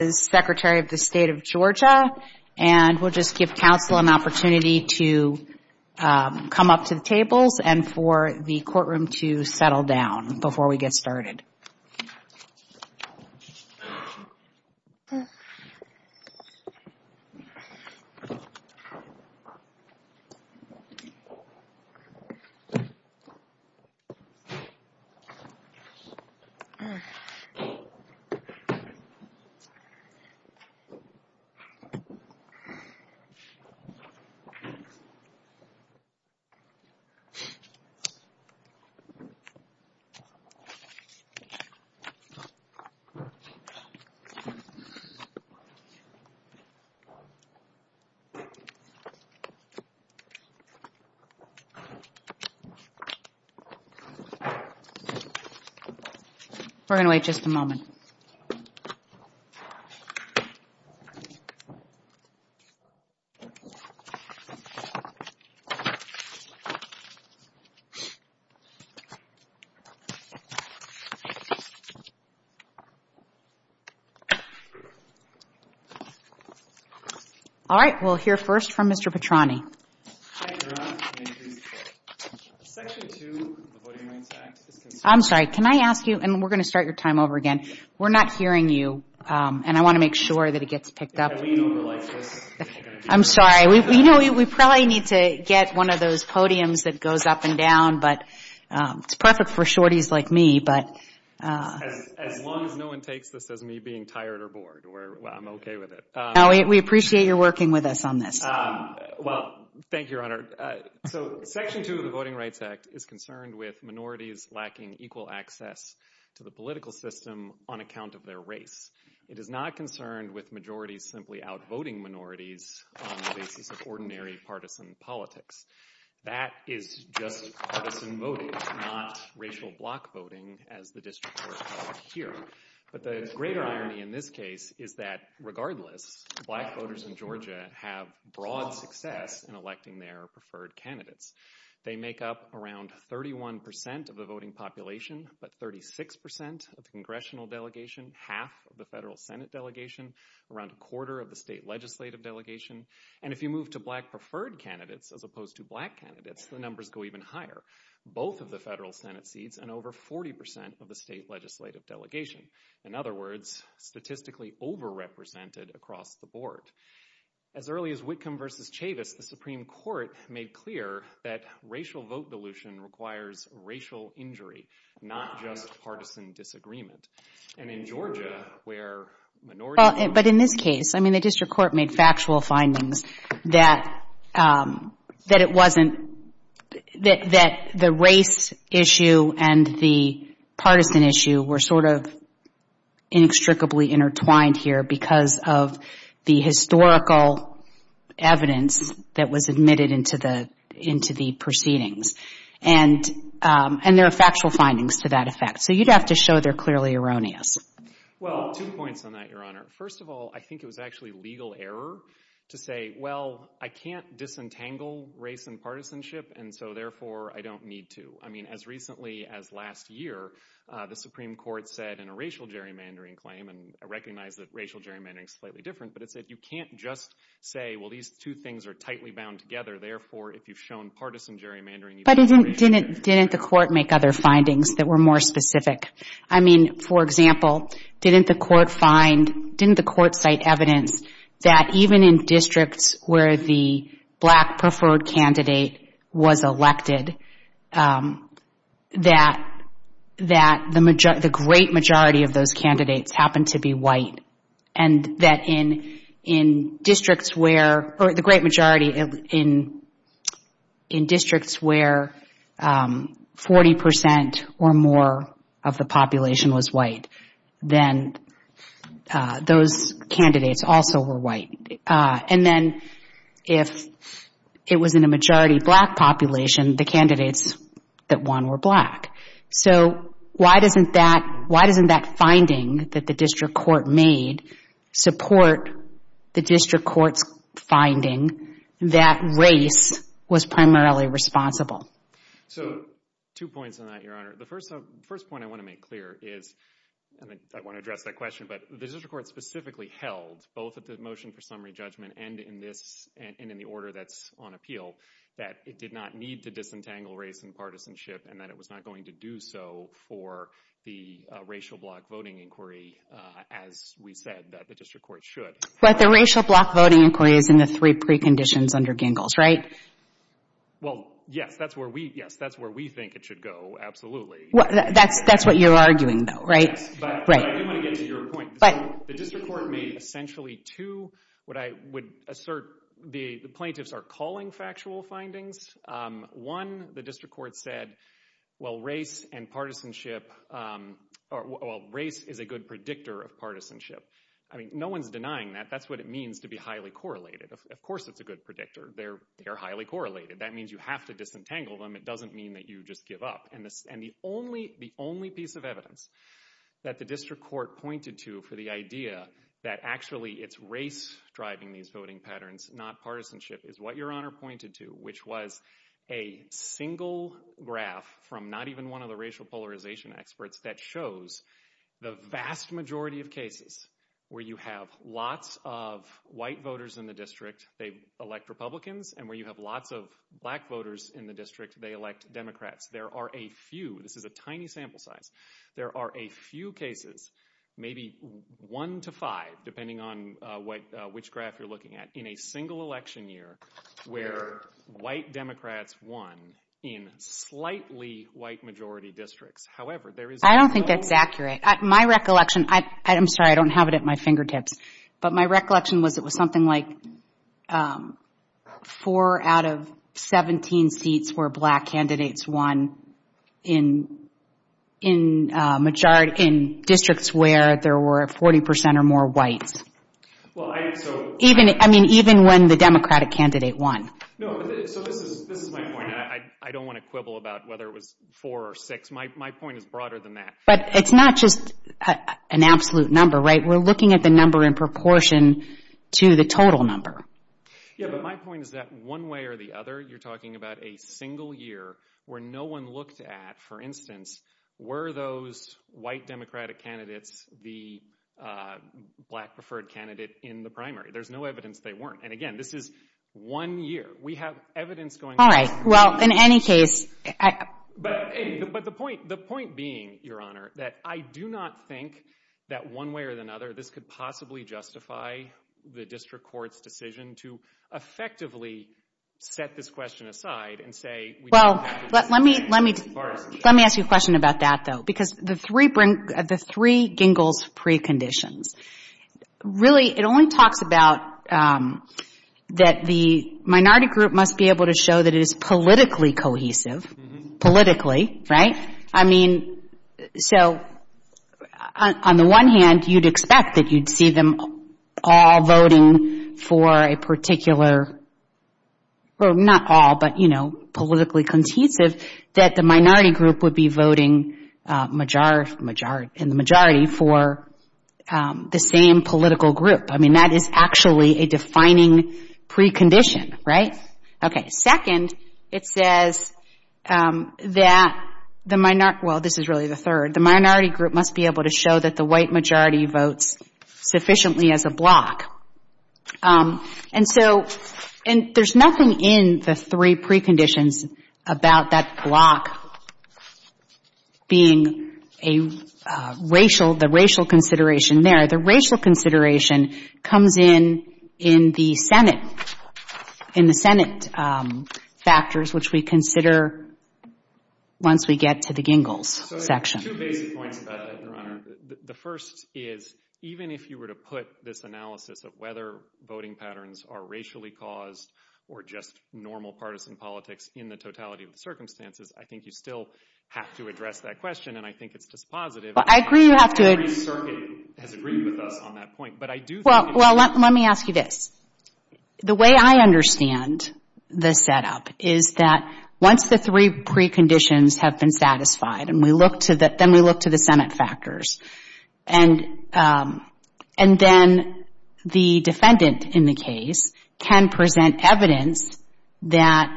State of Georgia, and we'll just give counsel an opportunity to come up to the tables and for the courtroom to settle down before we get started. We're going to wait just a moment. All right, we'll hear first from Mr. Petroni. I'm sorry, can I ask you, and we're going to start your time over again. We're not hearing you, and I want to make sure that it gets picked up. I'm sorry, we probably need to get one of those podiums that goes up and down, but it's perfect for shorties like me. As long as no one takes this as me being tired or bored, I'm okay with it. No, we appreciate your working with us on this. Well, thank you, Your Honor. So, Section 2 of the Voting Rights Act is concerned with minorities lacking equal access to the political system on account of their race. It is not concerned with majorities simply outvoting minorities on the basis of ordinary partisan politics. That is just partisan voting, not racial block voting as the district court called it here. But the greater irony in this case is that, regardless, black voters in Georgia have broad success in electing their preferred candidates. They make up around 31% of the voting population, but 36% of the congressional delegation, half of the federal senate delegation, around a quarter of the state legislative delegation. And if you move to black preferred candidates as opposed to black candidates, the numbers go even higher. Both of the federal senate seats and over 40% of the state legislative delegation. In other words, statistically overrepresented across the board. As early as Whitcomb v. Chavis, the Supreme Court made clear that racial vote dilution requires racial injury, not just partisan disagreement. And in Georgia, where minorities... But in this case, I mean, the district court made factual findings that it wasn't, that the race issue and the partisan issue were sort of inextricably intertwined here because of the historical evidence that was admitted into the proceedings. And there are factual findings to that effect. So you'd have to show they're clearly erroneous. Well, two points on that, Your Honor. First of all, I think it was actually legal error to say, well, I can't disentangle race and partisanship, and so, therefore, I don't need to. I mean, as recently as last year, the Supreme Court said in a racial gerrymandering claim, and I recognize that racial gerrymandering is slightly different, but it said you can't just say, well, these two things are tightly bound together. Therefore, if you've shown partisan gerrymandering... But didn't the court make other findings that were more specific? I mean, for example, didn't the court find, didn't the court cite evidence that even in districts where the black preferred candidate was elected, that the great majority of those candidates happened to be white? And that in districts where, or the great majority in districts where 40% or more of the population was white, then those candidates also were white. And then if it was in a majority black population, the candidates that won were black. So why doesn't that finding that the district court made support the district court's finding that race was primarily responsible? So, two points on that, Your Honor. The first point I want to make clear is, and I want to address that question, but the district court specifically held, both at the motion for summary judgment and in the order that's on appeal, that it did not need to disentangle race and partisanship, and that it was not going to do so for the racial block voting inquiry, as we said that the district court should. But the racial block voting inquiry is in the three preconditions under Gingles, right? Well, yes, that's where we think it should go, absolutely. That's what you're arguing, though, right? Yes, but I do want to get to your point. The district court made essentially two, what I would assert the plaintiffs are calling factual findings. One, the district court said, well, race and partisanship, well, race is a good predictor of partisanship. I mean, no one's denying that. That's what it means to be highly correlated. Of course it's a good predictor. They're highly correlated. That means you have to disentangle them. It doesn't mean that you just give up. And the only piece of evidence that the district court pointed to for the idea that actually it's race driving these voting patterns, not partisanship, is what Your Honor pointed to, which was a single graph from not even one of the racial polarization experts that shows the vast majority of cases where you have lots of white voters in the district, they elect Republicans, and where you have lots of black voters in the district, they elect Democrats. There are a few, this is a tiny sample size, there are a few cases, maybe one to five, depending on which graph you're looking at, in a single election year where white Democrats won in slightly white-majority districts. However, there is no— I don't think that's accurate. My recollection, I'm sorry, I don't have it at my fingertips, but my recollection was it was something like four out of 17 seats where black candidates won in districts where there were 40 percent or more whites. I mean, even when the Democratic candidate won. No, so this is my point. I don't want to quibble about whether it was four or six. My point is broader than that. But it's not just an absolute number, right? We're looking at the number in proportion to the total number. Yeah, but my point is that one way or the other, you're talking about a single year where no one looked at, for instance, were those white Democratic candidates the black-preferred candidate in the primary? There's no evidence they weren't. And again, this is one year. We have evidence going on. All right. Well, in any case— But the point being, Your Honor, that I do not think that one way or another this could possibly justify the district court's decision to effectively set this question aside and say— Well, let me ask you a question about that, though, because the three gingles preconditions. Really, it only talks about that the minority group must be able to show that it is politically cohesive, politically, right? I mean, so on the one hand, you'd expect that you'd see them all voting for a particular—well, not all, but politically cohesive—that the minority group would be voting in the majority for the same political group. I mean, that is actually a defining precondition, right? Okay. And on the second, it says that the minority—well, this is really the third—the minority group must be able to show that the white majority votes sufficiently as a bloc. And so—and there's nothing in the three preconditions about that bloc being a racial—the racial consideration there. The racial consideration comes in in the Senate, in the Senate factors, which we consider once we get to the gingles section. So two basic points about that, Your Honor. The first is even if you were to put this analysis of whether voting patterns are racially caused or just normal partisan politics in the totality of the circumstances, I think you still have to address that question, and I think it's dispositive. Well, I agree you have to— Every circuit has agreed with us on that point, but I do think— Well, let me ask you this. The way I understand the setup is that once the three preconditions have been satisfied and we look to the—then we look to the Senate factors, and then the defendant in the case can present evidence that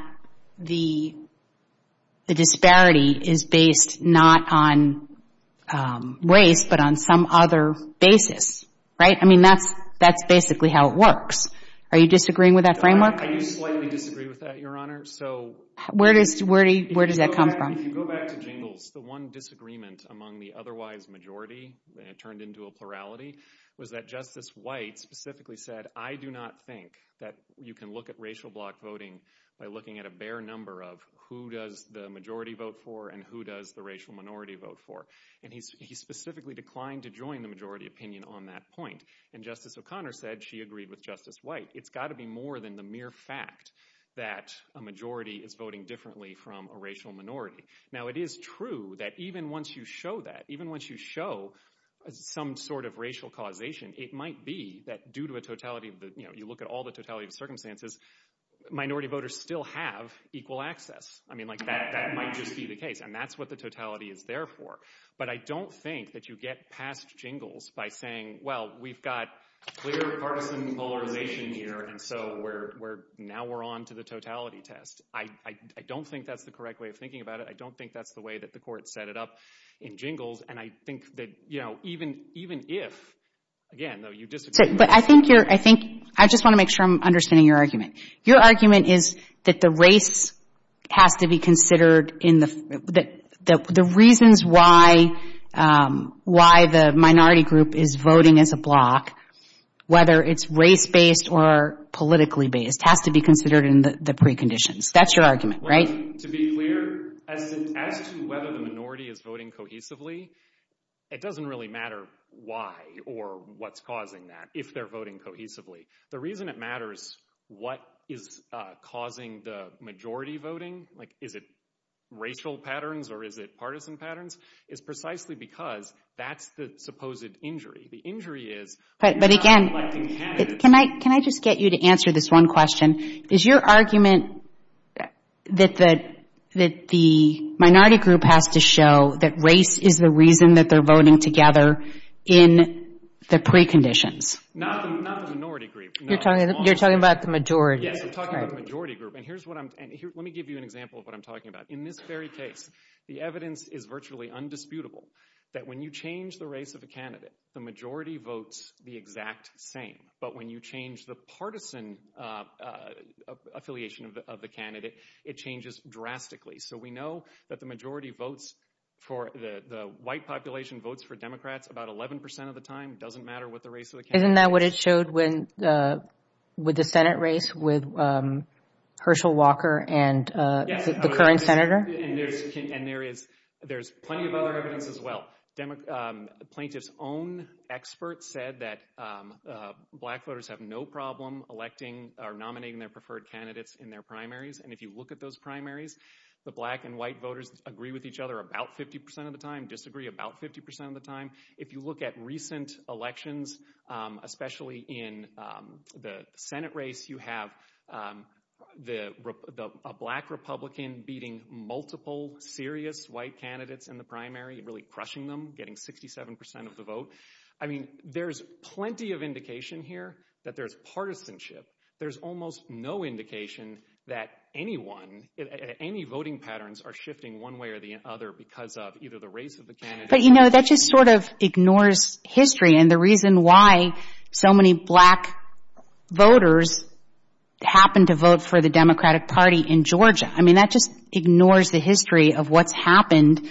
the disparity is based not on race but on some other basis, right? I mean, that's basically how it works. Are you disagreeing with that framework? I do slightly disagree with that, Your Honor. So— Where does that come from? If you go back to gingles, the one disagreement among the otherwise majority that turned into a plurality was that Justice White specifically said, I do not think that you can look at racial bloc voting by looking at a bare number of who does the majority vote for and who does the racial minority vote for. And he specifically declined to join the majority opinion on that point. And Justice O'Connor said she agreed with Justice White. It's got to be more than the mere fact that a majority is voting differently from a racial minority. Now, it is true that even once you show that, even once you show some sort of racial causation, it might be that due to a totality—you know, you look at all the totality of circumstances, minority voters still have equal access. I mean, like, that might just be the case. And that's what the totality is there for. But I don't think that you get past jingles by saying, well, we've got clear partisan polarization here, and so now we're on to the totality test. I don't think that's the correct way of thinking about it. I don't think that's the way that the court set it up in jingles. And I think that, you know, even if—again, though, you disagree— But I think you're—I think—I just want to make sure I'm understanding your argument. Your argument is that the race has to be considered in the—the reasons why the minority group is voting as a bloc, whether it's race-based or politically-based, has to be considered in the preconditions. That's your argument, right? Well, to be clear, as to whether the minority is voting cohesively, it doesn't really matter why or what's causing that, if they're voting cohesively. The reason it matters what is causing the majority voting—like, is it racial patterns or is it partisan patterns—is precisely because that's the supposed injury. The injury is— But again— You're not electing candidates. Can I just get you to answer this one question? Is your argument that the minority group has to show that race is the reason that they're voting together in the preconditions? Not the minority group. You're talking about the majority. Yes, I'm talking about the majority group. And here's what I'm—let me give you an example of what I'm talking about. In this very case, the evidence is virtually undisputable that when you change the race of a candidate, the majority votes the exact same. But when you change the partisan affiliation of the candidate, it changes drastically. So we know that the majority votes for—the white population votes for Democrats about 11% of the time. It doesn't matter what the race of the candidate is. Isn't that what it showed when—with the Senate race with Hershel Walker and the current senator? Yes, and there is plenty of other evidence as well. Plaintiffs' own experts said that black voters have no problem electing or nominating their preferred candidates in their primaries. And if you look at those primaries, the black and white voters agree with each other about 50% of the time, disagree about 50% of the time. If you look at recent elections, especially in the Senate race, you have a black Republican beating multiple serious white candidates in the primary, really crushing them, getting 67% of the vote. I mean, there's plenty of indication here that there's partisanship. There's almost no indication that anyone—any voting patterns are shifting one way or the other because of either the race of the candidate— But, you know, that just sort of ignores history and the reason why so many black voters happen to vote for the Democratic Party in Georgia. I mean, that just ignores the history of what's happened,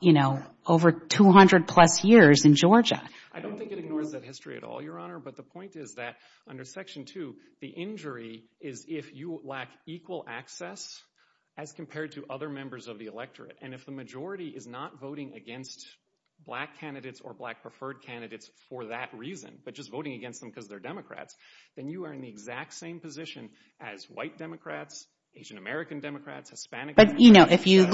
you know, over 200-plus years in Georgia. I don't think it ignores that history at all, Your Honor. But the point is that under Section 2, the injury is if you lack equal access as compared to other members of the electorate. And if the majority is not voting against black candidates or black preferred candidates for that reason, but just voting against them because they're Democrats, then you are in the exact same position as white Democrats, Asian-American Democrats, Hispanic Democrats. But, you know, if you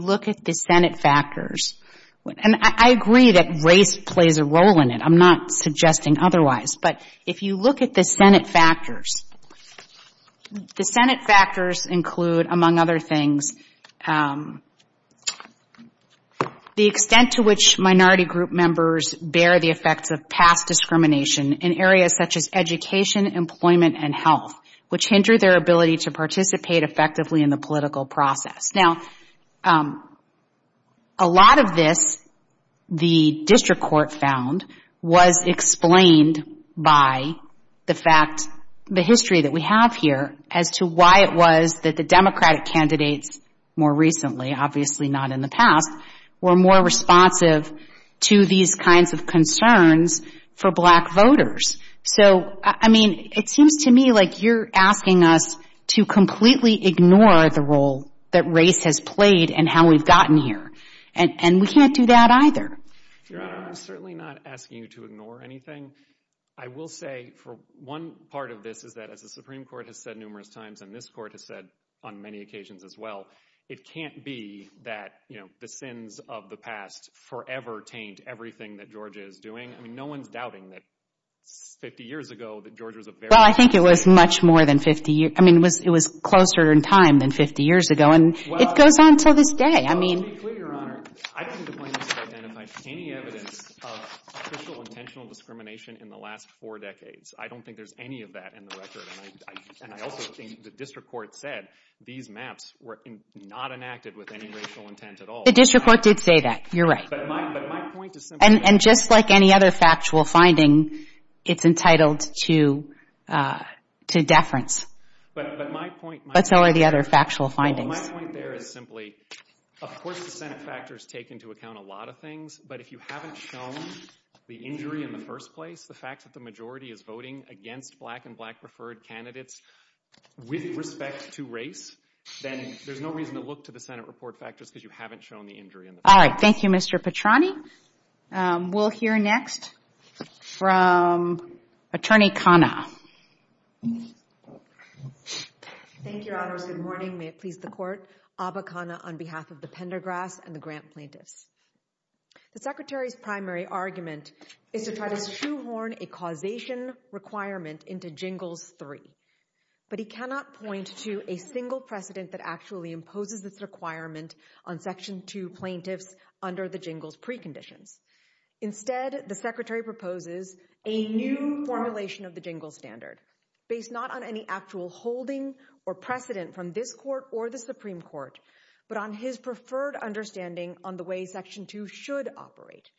look at the Senate factors—and I agree that race plays a role in it. I'm not suggesting otherwise. But if you look at the Senate factors, the Senate factors include, among other things, the extent to which minority group members bear the effects of past discrimination in areas such as education, employment, and health, which hinder their ability to participate effectively in the political process. Now, a lot of this, the district court found, was explained by the fact, the history that we have here, as to why it was that the Democratic candidates more recently, obviously not in the past, were more responsive to these kinds of concerns for black voters. So, I mean, it seems to me like you're asking us to completely ignore the role that race has played and how we've gotten here. And we can't do that either. Your Honor, I'm certainly not asking you to ignore anything. I will say for one part of this is that, as the Supreme Court has said numerous times, and this Court has said on many occasions as well, it can't be that, you know, the sins of the past forever taint everything that Georgia is doing. I mean, no one's doubting that 50 years ago that Georgia was a very... Well, I think it was much more than 50 years. I mean, it was closer in time than 50 years ago, and it goes on to this day. I mean... Let me be clear, Your Honor. I don't think the plaintiffs have identified any evidence of official intentional discrimination in the last four decades. I don't think there's any of that in the record. And I also think the district court said these maps were not enacted with any racial intent at all. The district court did say that. You're right. But my point is simply... And just like any other factual finding, it's entitled to deference. But my point... But so are the other factual findings. Well, my point there is simply, of course the Senate factors take into account a lot of things, but if you haven't shown the injury in the first place, the fact that the majority is voting against black and black-preferred candidates with respect to race, then there's no reason to look to the Senate report factors because you haven't shown the injury in the first place. All right. Thank you, Mr. Petrani. We'll hear next from Attorney Khanna. Thank you, Your Honors. Good morning. May it please the Court. Abba Khanna on behalf of the Pendergrass and the grant plaintiffs. The Secretary's primary argument is to try to shoehorn a causation requirement into Jingles 3, but he cannot point to a single precedent that actually imposes this requirement on Section 2 plaintiffs under the Jingles preconditions. Instead, the Secretary proposes a new formulation of the Jingles standard, based not on any actual holding or precedent from this Court or the Supreme Court, but on his preferred understanding on the way Section 2 should operate.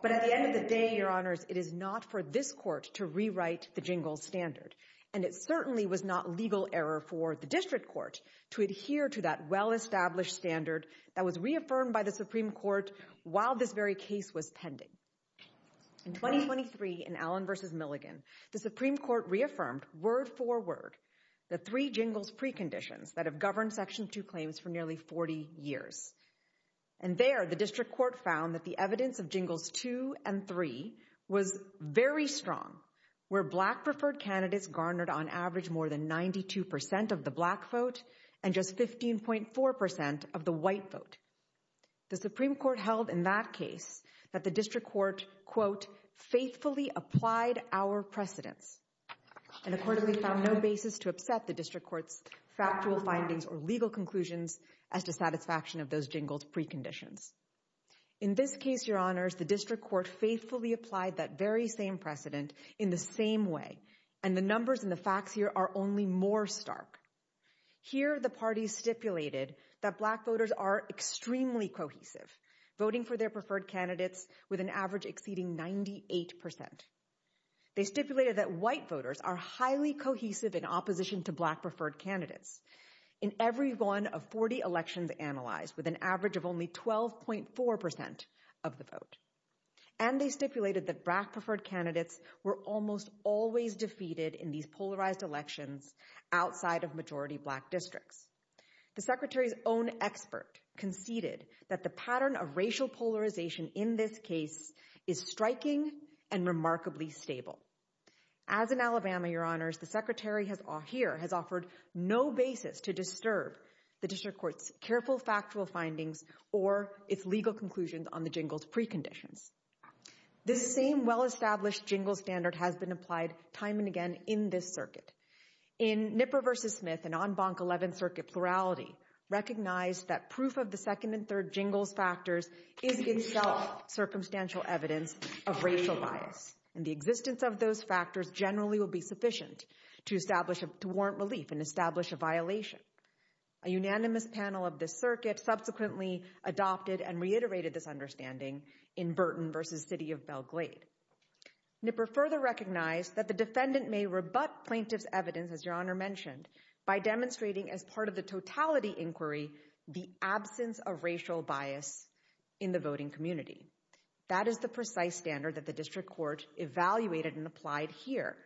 But at the end of the day, Your Honors, it is not for this Court to rewrite the Jingles standard. And it certainly was not legal error for the District Court to adhere to that well-established standard that was reaffirmed by the Supreme Court while this very case was pending. In 2023, in Allen v. Milligan, the Supreme Court reaffirmed, word for word, the three Jingles preconditions that have governed Section 2 claims for nearly 40 years. And there, the District Court found that the evidence of Jingles 2 and 3 was very strong, where Black preferred candidates garnered on average more than 92% of the Black vote, and just 15.4% of the White vote. The Supreme Court held in that case that the District Court, quote, faithfully applied our precedents, and accordingly found no basis to upset the District Court's factual findings or legal conclusions as to satisfaction of those Jingles preconditions. In this case, Your Honors, the District Court faithfully applied that very same precedent in the same way, and the numbers and the facts here are only more stark. Here, the parties stipulated that Black voters are extremely cohesive, voting for their preferred candidates with an average exceeding 98%. They stipulated that White voters are highly cohesive in opposition to Black preferred candidates. In every one of 40 elections analyzed, with an average of only 12.4% of the vote. And they stipulated that Black preferred candidates were almost always defeated in these polarized elections outside of majority Black districts. The Secretary's own expert conceded that the pattern of racial polarization in this case is striking and remarkably stable. As in Alabama, Your Honors, the Secretary here has offered no basis to disturb the District Court's careful factual findings or its legal conclusions on the Jingles preconditions. This same well-established Jingles standard has been applied time and again in this circuit. In Nipper v. Smith and on Bank 11th Circuit plurality, recognized that proof of the second and third Jingles factors is itself circumstantial evidence of racial bias. And the existence of those factors generally will be sufficient to warrant relief and establish a violation. A unanimous panel of this circuit subsequently adopted and reiterated this understanding in Burton v. City of Belgrade. Nipper further recognized that the defendant may rebut plaintiff's evidence, as Your Honor mentioned, by demonstrating as part of the totality inquiry the absence of racial bias in the voting community. That is the precise standard that the District Court evaluated and applied here.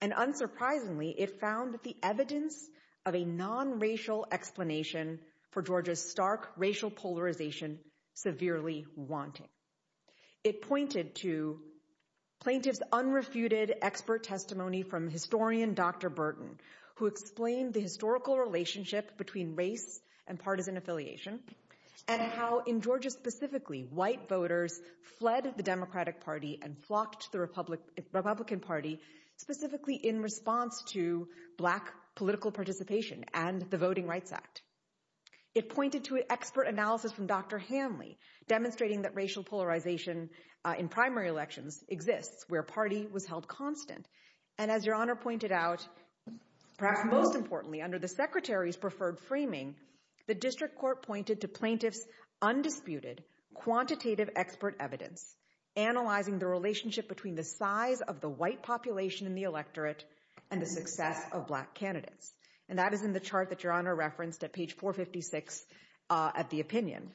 And unsurprisingly, it found the evidence of a non-racial explanation for Georgia's stark racial polarization severely wanting. It pointed to plaintiff's unrefuted expert testimony from historian Dr. Burton, who explained the historical relationship between race and partisan affiliation and how in Georgia specifically white voters fled the Democratic Party and flocked to the Republican Party specifically in response to black political participation and the Voting Rights Act. It pointed to expert analysis from Dr. Hanley, demonstrating that racial polarization in primary elections exists, where party was held constant. And as Your Honor pointed out, perhaps most importantly, under the Secretary's preferred framing, the District Court pointed to plaintiff's undisputed quantitative expert evidence, analyzing the relationship between the size of the white population in the electorate and the success of black candidates. And that is in the chart that Your Honor referenced at page 456 at the opinion.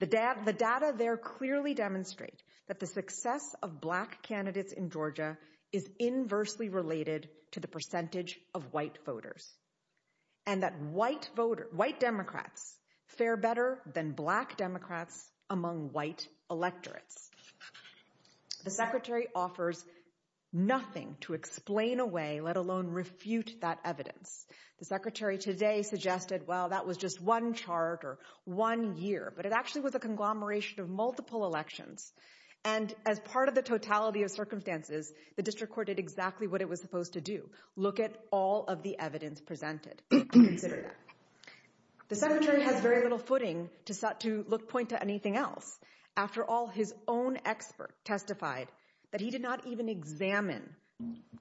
The data there clearly demonstrate that the success of black candidates in Georgia is inversely related to the percentage of white voters. And that white voters, white Democrats, fare better than black Democrats among white electorates. The Secretary offers nothing to explain away, let alone refute that evidence. The Secretary today suggested, well, that was just one chart or one year, but it actually was a conglomeration of multiple elections. And as part of the totality of circumstances, the District Court did exactly what it was supposed to do, look at all of the evidence presented and consider that. The Secretary has very little footing to point to anything else. After all, his own expert testified that he did not even examine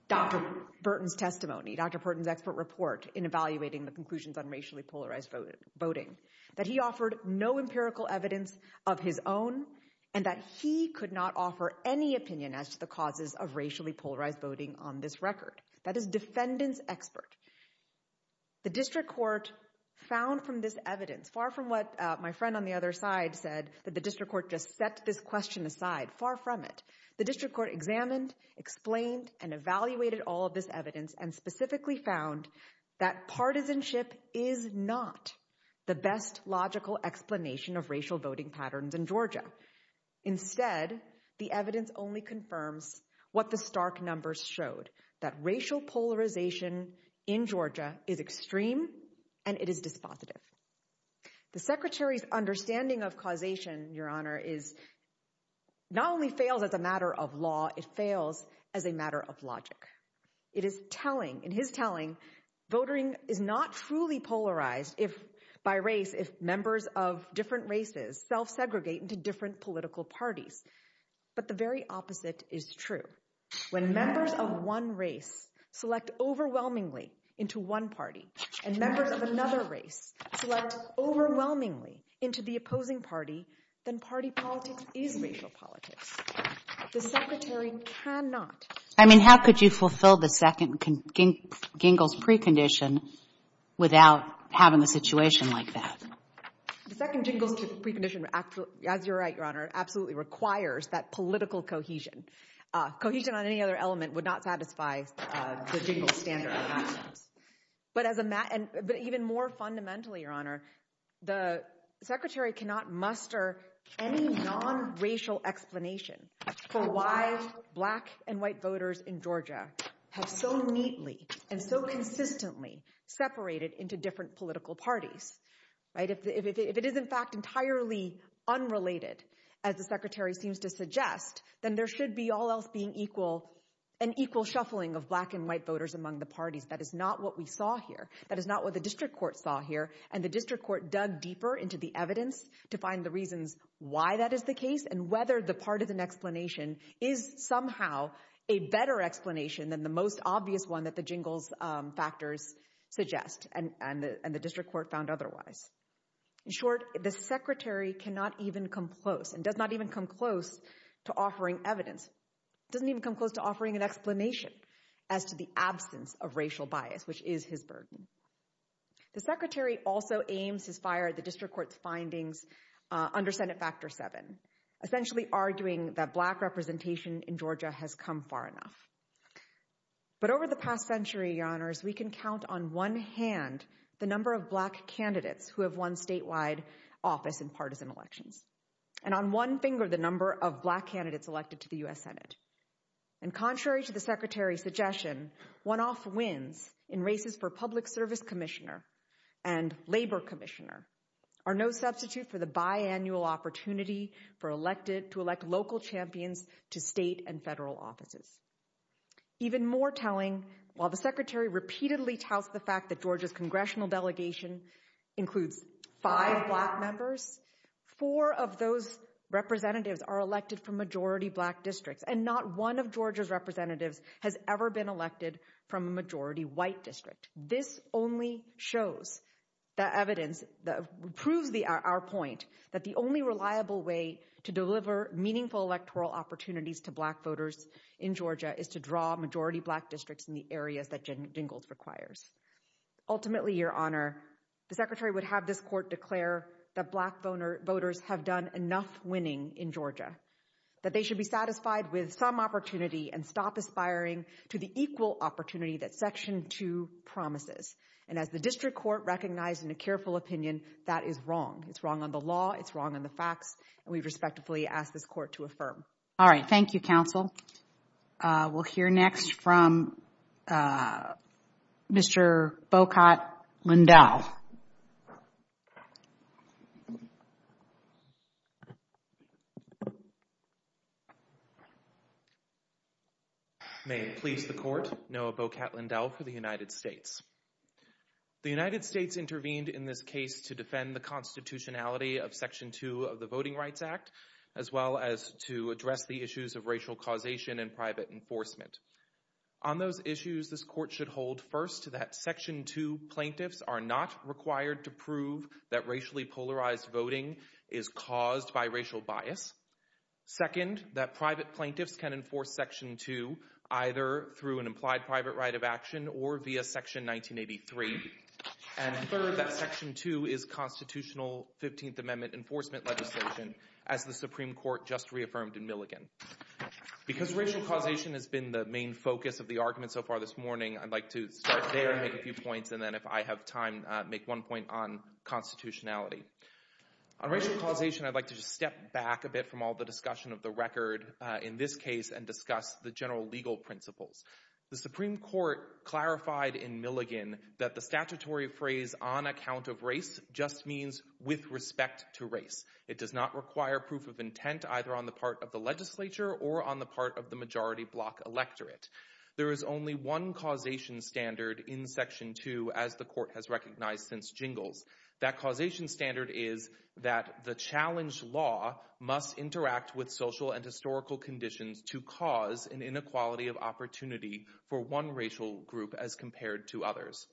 Dr. Burton's testimony, Dr. Burton's expert report in evaluating the conclusions on racially polarized voting, that he offered no empirical evidence of his own, and that he could not offer any opinion as to the causes of racially polarized voting on this record. That is defendant's expert. The District Court found from this evidence, far from what my friend on the other side said, that the District Court just set this question aside, far from it. The District Court examined, explained, and evaluated all of this evidence and specifically found that partisanship is not the best logical explanation of racial voting patterns in Georgia. Instead, the evidence only confirms what the stark numbers showed, that racial polarization in Georgia is extreme and it is dispositive. The Secretary's understanding of causation, Your Honor, not only fails as a matter of law, it fails as a matter of logic. It is telling, in his telling, voting is not truly polarized by race if members of different races self-segregate into different political parties. But the very opposite is true. When members of one race select overwhelmingly into one party and members of another race select overwhelmingly into the opposing party, then party politics is racial politics. The Secretary cannot... I mean, how could you fulfill the second Gingell's precondition without having a situation like that? The second Gingell's precondition, as you're right, Your Honor, absolutely requires that political cohesion. Cohesion on any other element would not satisfy the Gingell's standard of actions. But even more fundamentally, Your Honor, the Secretary cannot muster any non-racial explanation for why black and white voters in Georgia have so neatly and so consistently separated into different political parties. If it is in fact entirely unrelated, as the Secretary seems to suggest, then there should be all else being an equal shuffling of black and white voters among the parties. That is not what we saw here. That is not what the district court saw here. And the district court dug deeper into the evidence to find the reasons why that is the case and whether the part of an explanation is somehow a better explanation than the most obvious one that the Gingell's factors suggest. And the district court found otherwise. In short, the Secretary cannot even come close and does not even come close to offering evidence. Doesn't even come close to offering an explanation as to the absence of racial bias, which is his burden. The Secretary also aims his fire at the district court's findings under Senate Factor VII, essentially arguing that black representation in Georgia has come far enough. But over the past century, Your Honors, we can count on one hand the number of black candidates who have won statewide office in partisan elections, and on one finger the number of black candidates elected to the U.S. Senate. And contrary to the Secretary's suggestion, one-off wins in races for public service commissioner and labor commissioner are no substitute for the biannual opportunity to elect local champions to state and federal offices. Even more telling, while the Secretary repeatedly touts the fact that Georgia's congressional delegation includes five black members, four of those representatives are elected from majority black districts, and not one of Georgia's representatives has ever been elected from a majority white district. This only shows the evidence that proves our point that the only reliable way to deliver meaningful electoral opportunities to black voters in Georgia is to draw majority black districts in the areas that Jen Dingell requires. Ultimately, Your Honor, the Secretary would have this court declare that black voters have done enough winning in Georgia, that they should be satisfied with some opportunity and stop aspiring to the equal opportunity that Section 2 promises. And as the district court recognized in a careful opinion, that is wrong. It's wrong on the law, it's wrong on the facts, and we respectfully ask this court to affirm. All right, thank you, counsel. We'll hear next from Mr. Bokat Lindell. May it please the court, Noah Bokat Lindell for the United States. The United States intervened in this case to defend the constitutionality of Section 2 of the Voting Rights Act as well as to address the issues of racial causation and private enforcement. On those issues, this court should hold, first, that Section 2 plaintiffs are not required to prove that racially polarized voting is caused by racial bias. Second, that private plaintiffs can enforce Section 2 either through an implied private right of action or via Section 1983. And third, that Section 2 is constitutional 15th Amendment enforcement legislation as the Supreme Court just reaffirmed in Milligan. Because racial causation has been the main focus of the argument so far this morning, I'd like to start there and make a few points, and then if I have time, make one point on constitutionality. On racial causation, I'd like to just step back a bit from all the discussion of the record in this case and discuss the general legal principles. The Supreme Court clarified in Milligan that the statutory phrase on account of race just means with respect to race. It does not require proof of intent either on the part of the legislature or on the part of the majority block electorate. There is only one causation standard in Section 2, as the court has recognized since Jingles. That causation standard is that the challenged law must interact with social and historical conditions to cause an inequality of opportunity for one racial group as compared to others.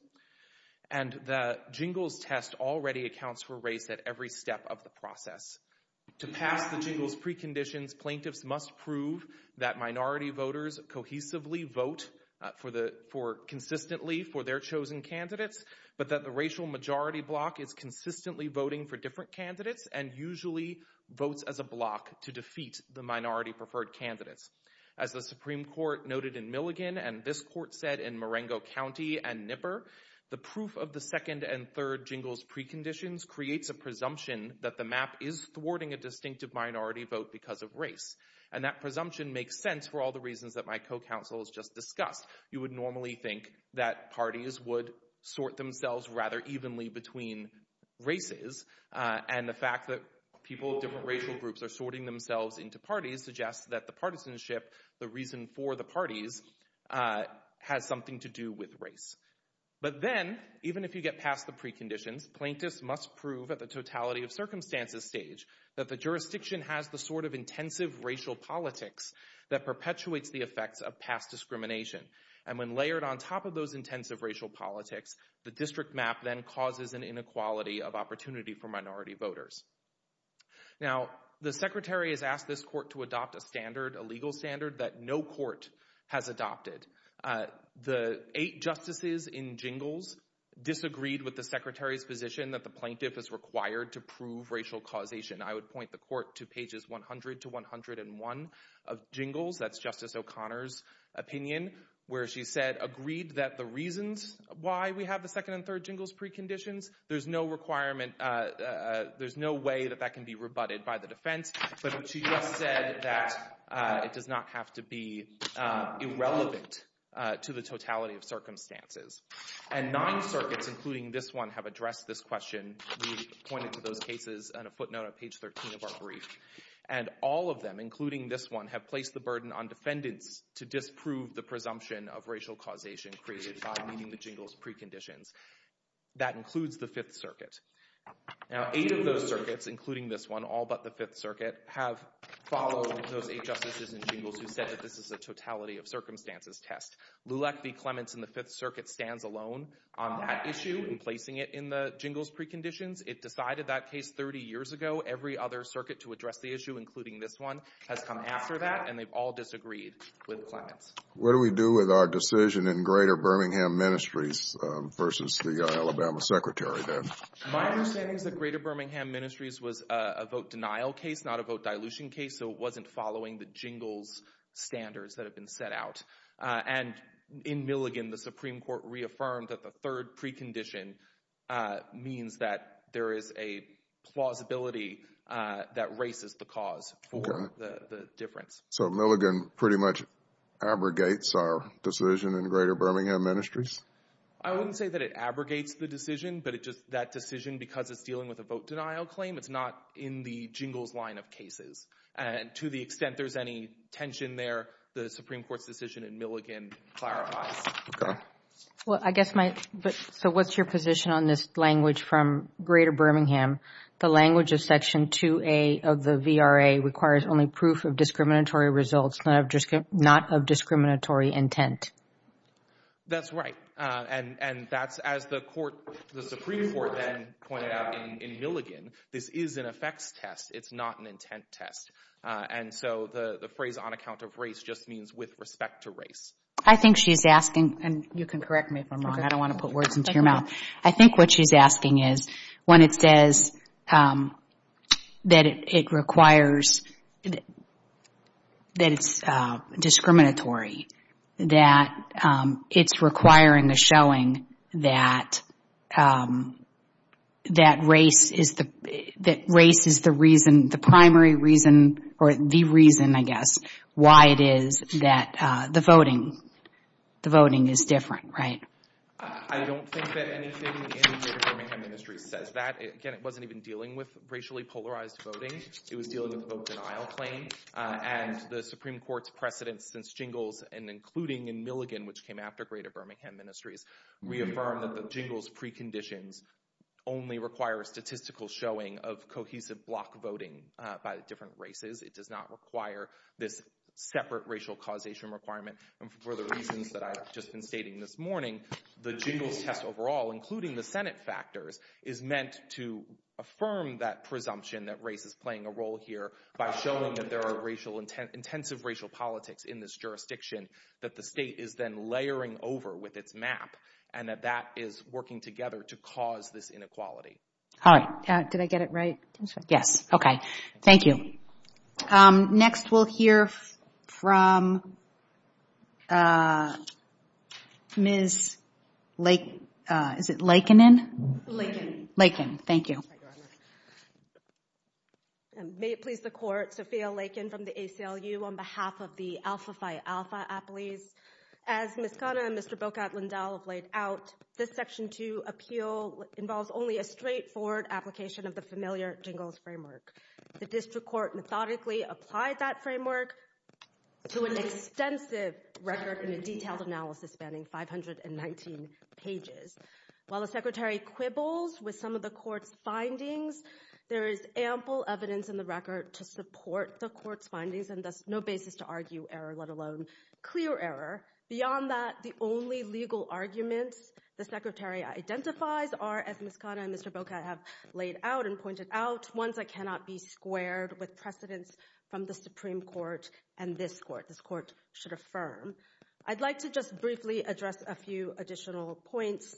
And the Jingles test already accounts for race at every step of the process. To pass the Jingles preconditions, plaintiffs must prove that minority voters cohesively vote consistently for their chosen candidates, but that the racial majority block is consistently voting for different candidates and usually votes as a block to defeat the minority preferred candidates. As the Supreme Court noted in Milligan, and this court said in Marengo County and Nipper, the proof of the second and third Jingles preconditions creates a presumption that the map is thwarting a distinctive minority vote because of race. And that presumption makes sense for all the reasons that my co-counsel has just discussed. You would normally think that parties would sort themselves rather evenly between races, and the fact that people of different racial groups are sorting themselves into parties suggests that the partisanship, the reason for the parties, has something to do with race. But then, even if you get past the preconditions, plaintiffs must prove at the totality of circumstances stage that the jurisdiction has the sort of intensive racial politics that perpetuates the effects of past discrimination. And when layered on top of those intensive racial politics, the district map then causes an inequality of opportunity for minority voters. Now, the Secretary has asked this court to adopt a standard, a legal standard, that no court has adopted. The eight justices in Jingles disagreed with the Secretary's position that the plaintiff is required to prove racial causation. I would point the court to pages 100 to 101 of Jingles, that's Justice O'Connor's opinion, where she said, agreed that the reasons why we have the second and third Jingles preconditions, there's no requirement, there's no way that that can be rebutted by the defense. But she just said that it does not have to be irrelevant to the totality of circumstances. And nine circuits, including this one, have addressed this question. We pointed to those cases on a footnote on page 13 of our brief. And all of them, including this one, have placed the burden on defendants to disprove the presumption of racial causation created by meeting the Jingles preconditions. That includes the Fifth Circuit. Now, eight of those circuits, including this one, all but the Fifth Circuit, have followed those eight justices in Jingles who said that this is a totality of circumstances test. Lulek v. Clements in the Fifth Circuit stands alone on that issue in placing it in the Jingles preconditions. It decided that case 30 years ago. Every other circuit to address the issue, including this one, has come after that, and they've all disagreed with Clements. What do we do with our decision in Greater Birmingham Ministries versus the Alabama Secretary then? My understanding is that Greater Birmingham Ministries was a vote denial case, not a vote dilution case, so it wasn't following the Jingles standards that have been set out. And in Milligan, the Supreme Court reaffirmed that the third precondition means that there is a plausibility that race is the cause for the difference. So Milligan pretty much abrogates our decision in Greater Birmingham Ministries? I wouldn't say that it abrogates the decision, but just that decision, because it's dealing with a vote denial claim, it's not in the Jingles line of cases. And to the extent there's any tension there, the Supreme Court's decision in Milligan clarifies. Okay. So what's your position on this language from Greater Birmingham? The language of Section 2A of the VRA requires only proof of discriminatory results, not of discriminatory intent. That's right. And that's, as the Supreme Court then pointed out in Milligan, this is an effects test. It's not an intent test. And so the phrase on account of race just means with respect to race. I think she's asking, and you can correct me if I'm wrong. I don't want to put words into your mouth. I think what she's asking is when it says that it requires, that it's discriminatory, that it's requiring the showing that race is the reason, the primary reason, or the reason, I guess, why it is that the voting is different, right? I don't think that anything in Greater Birmingham Ministries says that. Again, it wasn't even dealing with racially polarized voting. It was dealing with the vote denial claim. And the Supreme Court's precedence since Jingles, and including in Milligan, which came after Greater Birmingham Ministries, reaffirmed that the Jingles preconditions only require a statistical showing of cohesive block voting by the different races. It does not require this separate racial causation requirement. And for the reasons that I've just been stating this morning, the Jingles test overall, including the Senate factors, is meant to affirm that presumption that race is playing a role here by showing that there are intensive racial politics in this jurisdiction that the state is then layering over with its map and that that is working together to cause this inequality. All right. Did I get it right? Yes. Okay. Thank you. Next, we'll hear from Ms. Laiken. Is it Laiken-in? Laiken. Laiken. Thank you. May it please the Court, Sophia Laiken from the ACLU on behalf of the Alpha Phi Alpha Appellees. As Ms. Kanna and Mr. Bokat Lindahl have laid out, this Section 2 appeal involves only a straightforward application of the familiar Jingles framework. The District Court methodically applied that framework to an extensive record and a detailed analysis spanning 519 pages. While the Secretary quibbles with some of the Court's findings, there is ample evidence in the record to support the Court's findings and thus no basis to argue error, let alone clear error. Beyond that, the only legal arguments the Secretary identifies are, as Ms. Kanna and Mr. Bokat have laid out and pointed out, ones that cannot be squared with precedence from the Supreme Court and this Court. This Court should affirm. I'd like to just briefly address a few additional points.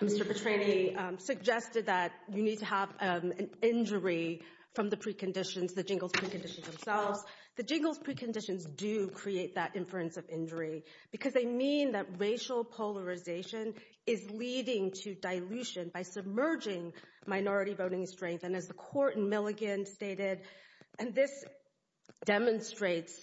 Mr. Petrani suggested that you need to have an injury from the preconditions, the Jingles preconditions themselves. The Jingles preconditions do create that inference of injury because they mean that racial polarization is leading to dilution by submerging minority voting strength. And as the Court in Milligan stated, and this demonstrates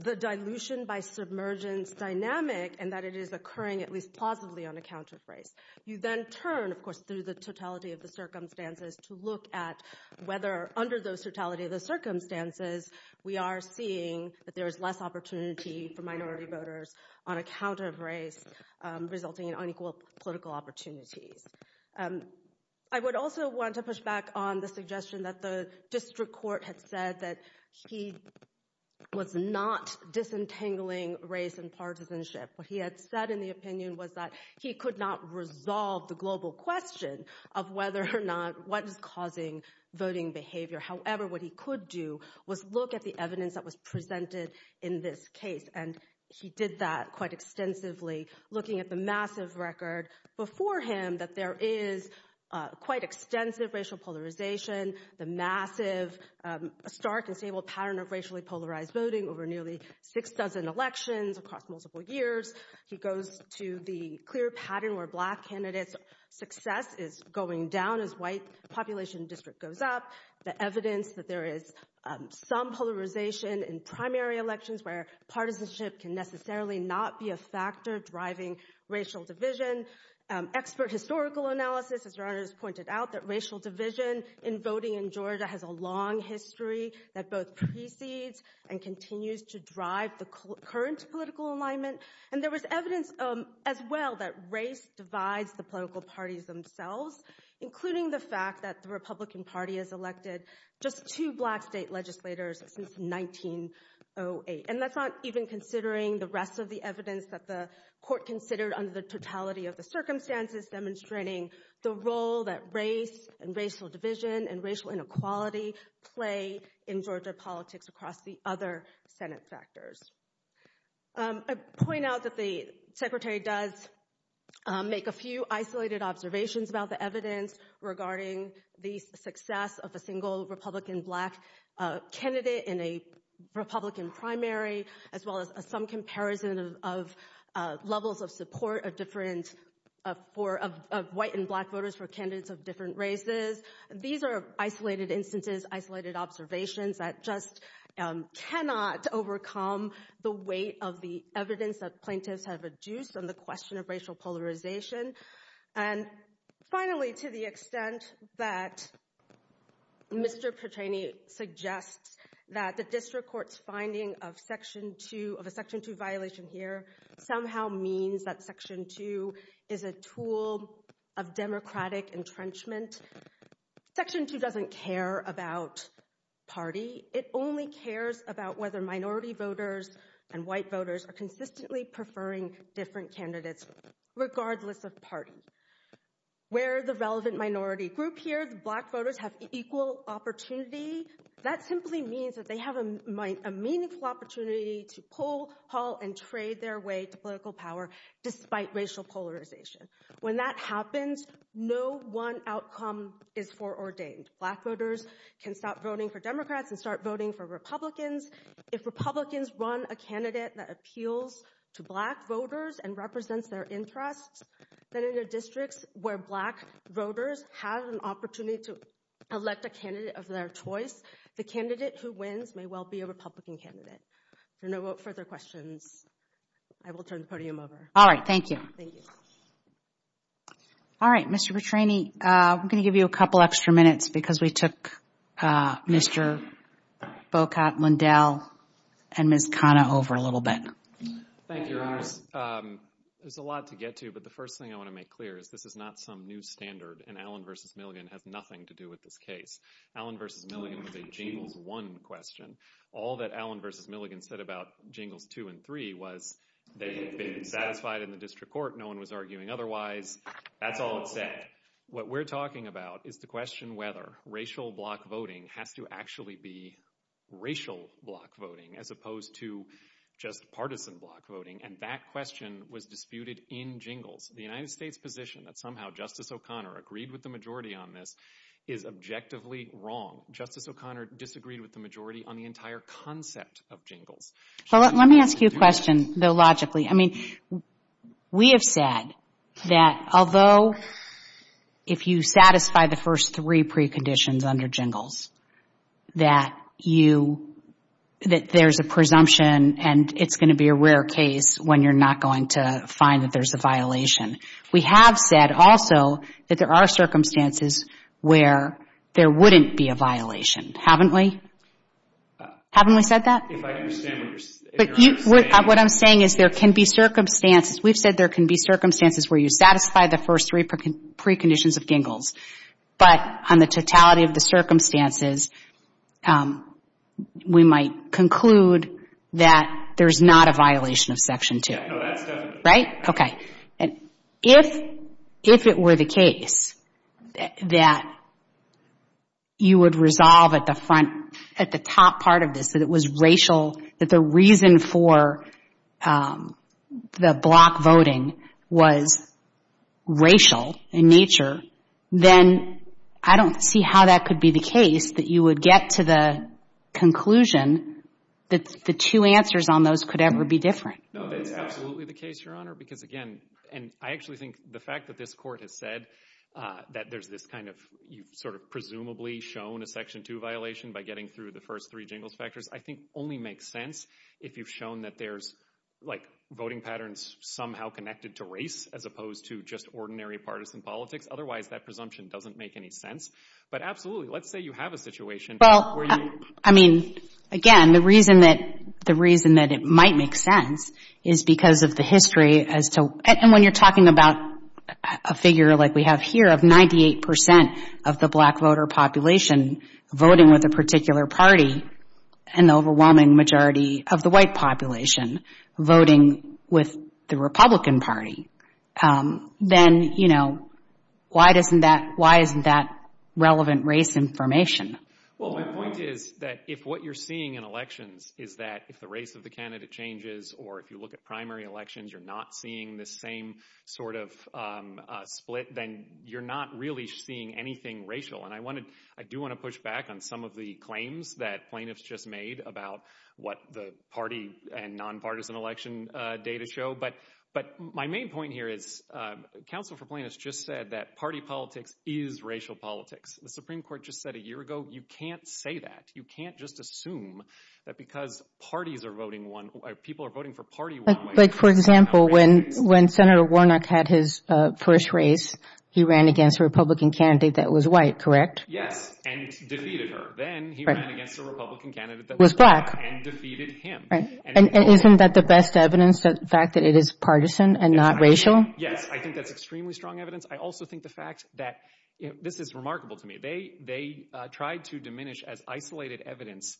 the dilution by submergence dynamic and that it is occurring at least plausibly on account of race. You then turn, of course, through the totality of the circumstances to look at whether under the totality of the circumstances we are seeing that there is less opportunity for minority voters on account of race resulting in unequal political opportunities. I would also want to push back on the suggestion that the District Court had said that he was not disentangling race and partisanship. What he had said in the opinion was that he could not resolve the global question of whether or not what is causing voting behavior. However, what he could do was look at the evidence that was presented in this case. And he did that quite extensively, looking at the massive record before him that there is quite extensive racial polarization, the massive stark and stable pattern of racially polarized voting over nearly six dozen elections across multiple years. He goes to the clear pattern where black candidates' success is going down as white population district goes up, the evidence that there is some polarization in primary elections where partisanship can necessarily not be a factor driving racial division. Expert historical analysis has pointed out that racial division in voting in Georgia has a long history that both precedes and continues to drive the current political alignment. And there was evidence as well that race divides the political parties themselves, including the fact that the Republican Party has elected just two black state legislators since 1908. And that's not even considering the rest of the evidence that the court considered under the totality of the circumstances demonstrating the role that race and racial division and racial inequality play in Georgia politics across the other Senate factors. I point out that the Secretary does make a few isolated observations about the evidence regarding the success of a single Republican black candidate in a Republican primary, as well as some comparison of levels of support of white and black voters for candidates of different races. These are isolated instances, isolated observations that just cannot overcome the weight of the evidence that plaintiffs have reduced on the question of racial polarization. And finally, to the extent that Mr. Petrany suggests that the district court's finding of a Section 2 violation here somehow means that Section 2 is a tool of Democratic entrenchment, Section 2 doesn't care about party. It only cares about whether minority voters and white voters are consistently preferring different candidates, regardless of party. Where the relevant minority group here, the black voters, have equal opportunity, that simply means that they have a meaningful opportunity to pull, haul, and trade their way to political power despite racial polarization. When that happens, no one outcome is foreordained. Black voters can stop voting for Democrats and start voting for Republicans. If Republicans run a candidate that appeals to black voters and represents their interests, then in the districts where black voters have an opportunity to elect a candidate of their choice, the candidate who wins may well be a Republican candidate. If there are no further questions, I will turn the podium over. All right, thank you. Thank you. All right, Mr. Petrany, I'm going to give you a couple extra minutes because we took Mr. Bocott, Lindell, and Ms. Khanna over a little bit. Thank you, Your Honors. There's a lot to get to, but the first thing I want to make clear is this is not some new standard, and Allen v. Milligan has nothing to do with this case. Allen v. Milligan was a Jingles 1 question. All that Allen v. Milligan said about Jingles 2 and 3 was they had been satisfied in the district court, no one was arguing otherwise, that's all it said. What we're talking about is the question whether racial block voting has to actually be racial block voting as opposed to just partisan block voting, and that question was disputed in Jingles. The United States' position that somehow Justice O'Connor agreed with the majority on this is objectively wrong. Justice O'Connor disagreed with the majority on the entire concept of Jingles. Let me ask you a question, though logically. I mean, we have said that although if you satisfy the first three preconditions under Jingles, that there's a presumption and it's going to be a rare case when you're not going to find that there's a violation. We have said also that there are circumstances where there wouldn't be a violation, haven't we? Haven't we said that? What I'm saying is there can be circumstances. We've said there can be circumstances where you satisfy the first three preconditions of Jingles, but on the totality of the circumstances, we might conclude that there's not a violation of Section 2. No, that's definitely true. Right? Okay. If it were the case that you would resolve at the front, at the top part of this, that it was racial, that the reason for the block voting was racial in nature, then I don't see how that could be the case that you would get to the conclusion that the two answers on those could ever be different. No, that's absolutely the case, Your Honor, because again, and I actually think the fact that this Court has said that there's this kind of, you've sort of presumably shown a Section 2 violation by getting through the first three Jingles factors, I think only makes sense if you've shown that there's like voting patterns somehow connected to race as opposed to just ordinary partisan politics. Otherwise, that presumption doesn't make any sense. But absolutely, let's say you have a situation where you— Well, I mean, again, the reason that it might make sense is because of the history as to— and when you're talking about a figure like we have here of 98 percent of the black voter population voting with a particular party and the overwhelming majority of the white population voting with the Republican Party, then, you know, why isn't that relevant race information? Well, my point is that if what you're seeing in elections is that if the race of the candidate changes or if you look at primary elections, you're not seeing the same sort of split, then you're not really seeing anything racial. And I do want to push back on some of the claims that plaintiffs just made about what the party and nonpartisan election data show. But my main point here is Council for Plaintiffs just said that party politics is racial politics. The Supreme Court just said a year ago you can't say that. You can't just assume that because parties are voting one—people are voting for party one way— Like, for example, when Senator Warnock had his first race, he ran against a Republican candidate that was white, correct? Yes, and defeated her. Then he ran against a Republican candidate that was black and defeated him. And isn't that the best evidence, the fact that it is partisan and not racial? Yes, I think that's extremely strong evidence. I also think the fact that—this is remarkable to me. They tried to diminish as isolated evidence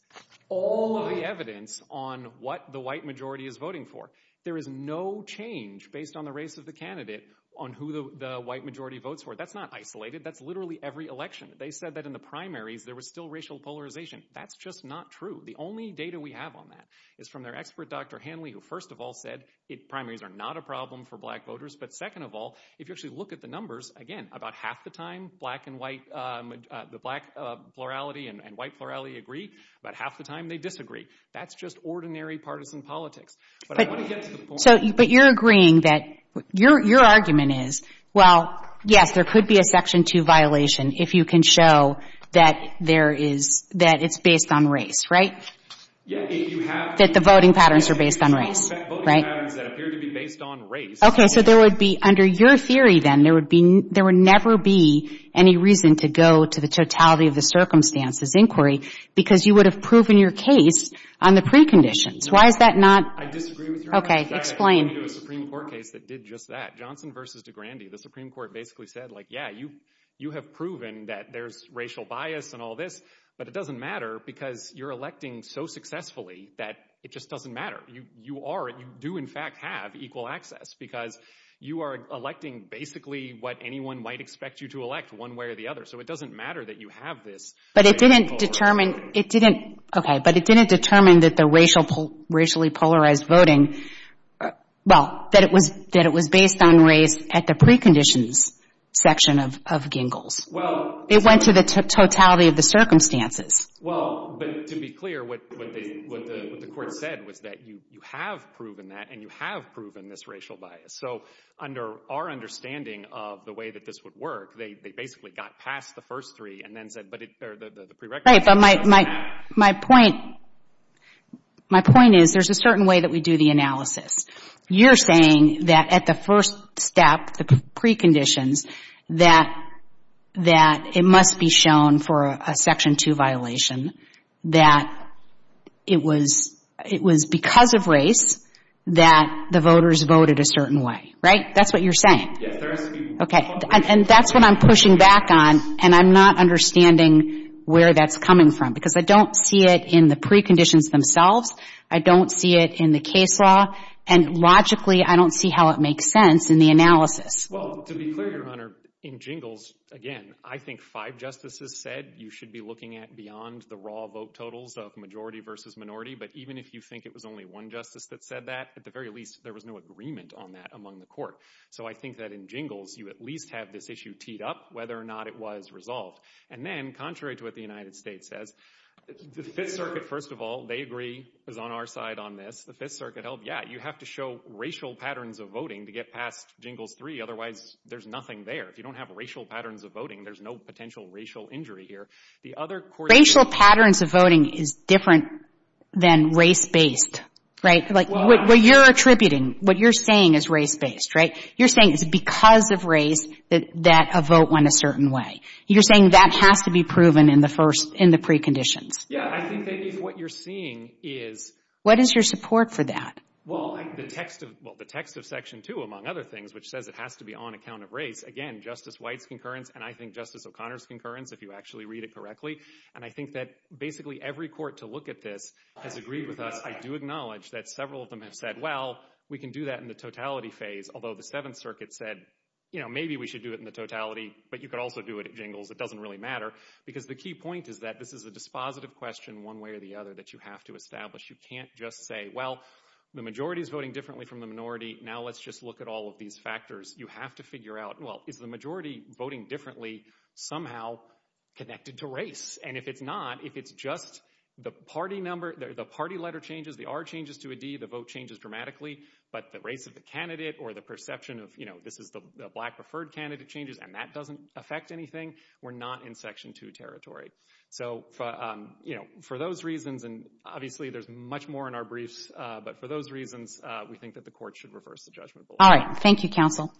all of the evidence on what the white majority is voting for. There is no change based on the race of the candidate on who the white majority votes for. That's not isolated. That's literally every election. They said that in the primaries there was still racial polarization. That's just not true. The only data we have on that is from their expert, Dr. Hanley, who first of all said primaries are not a problem for black voters. But second of all, if you actually look at the numbers, again, about half the time black and white—the black plurality and white plurality agree. About half the time they disagree. That's just ordinary partisan politics. But I want to get to the point— But you're agreeing that—your argument is, well, yes, there could be a Section 2 violation if you can show that there is—that it's based on race, right? Yeah, if you have— That the voting patterns are based on race, right? Voting patterns that appear to be based on race. Okay. So there would be—under your theory, then, there would never be any reason to go to the totality of the circumstances inquiry because you would have proven your case on the preconditions. Why is that not— I disagree with your argument. Okay. Explain. I think you need a Supreme Court case that did just that. Johnson v. DeGrande, the Supreme Court basically said, like, yeah, you have proven that there's racial bias and all this, but it doesn't matter because you're electing so successfully that it just doesn't matter. You are—you do, in fact, have equal access because you are electing basically what anyone might expect you to elect one way or the other. So it doesn't matter that you have this— But it didn't determine—it didn't— Okay. But it didn't determine that the racially polarized voting— well, that it was—that it was based on race at the preconditions section of Gingell's. Well— It went to the totality of the circumstances. Well, but to be clear, what they—what the Court said was that you have proven that and you have proven this racial bias. So under our understanding of the way that this would work, they basically got past the first three and then said, but it—or the prerequisite— Right. But my point—my point is there's a certain way that we do the analysis. You're saying that at the first step, the preconditions, that—that it must be shown for a Section 2 violation that it was— it was because of race that the voters voted a certain way, right? That's what you're saying. Yes, there has to be— Okay. And that's what I'm pushing back on, and I'm not understanding where that's coming from because I don't see it in the preconditions themselves. I don't see it in the case law. And logically, I don't see how it makes sense in the analysis. Well, to be clear, Your Honor, in Gingell's, again, I think five justices said you should be looking at beyond the raw vote totals of majority versus minority. But even if you think it was only one justice that said that, at the very least, there was no agreement on that among the Court. So I think that in Gingell's, you at least have this issue teed up, whether or not it was resolved. And then, contrary to what the United States says, the Fifth Circuit, first of all, they agree, is on our side on this. The Fifth Circuit held, yeah, you have to show racial patterns of voting to get past Gingell's 3, otherwise there's nothing there. If you don't have racial patterns of voting, there's no potential racial injury here. The other— Racial patterns of voting is different than race-based, right? Like, what you're attributing, what you're saying is race-based, right? You're saying it's because of race that a vote went a certain way. You're saying that has to be proven in the preconditions. Yeah, I think that what you're seeing is— What is your support for that? Well, the text of Section 2, among other things, which says it has to be on account of race. Again, Justice White's concurrence, and I think Justice O'Connor's concurrence, if you actually read it correctly. And I think that basically every court to look at this has agreed with us. I do acknowledge that several of them have said, well, we can do that in the totality phase, although the Seventh Circuit said, you know, maybe we should do it in the totality, but you could also do it at jingles. It doesn't really matter. Because the key point is that this is a dispositive question, one way or the other, that you have to establish. You can't just say, well, the majority is voting differently from the minority. Now let's just look at all of these factors. You have to figure out, well, is the majority voting differently somehow connected to race? And if it's not, if it's just the party number, the party letter changes, the R changes to a D, the vote changes dramatically, but the race of the candidate or the perception of, you know, this is the black-preferred candidate changes, and that doesn't affect anything, we're not in Section 2 territory. So, you know, for those reasons, and obviously there's much more in our briefs, but for those reasons, we think that the Court should reverse the judgment. All right. Thank you, counsel.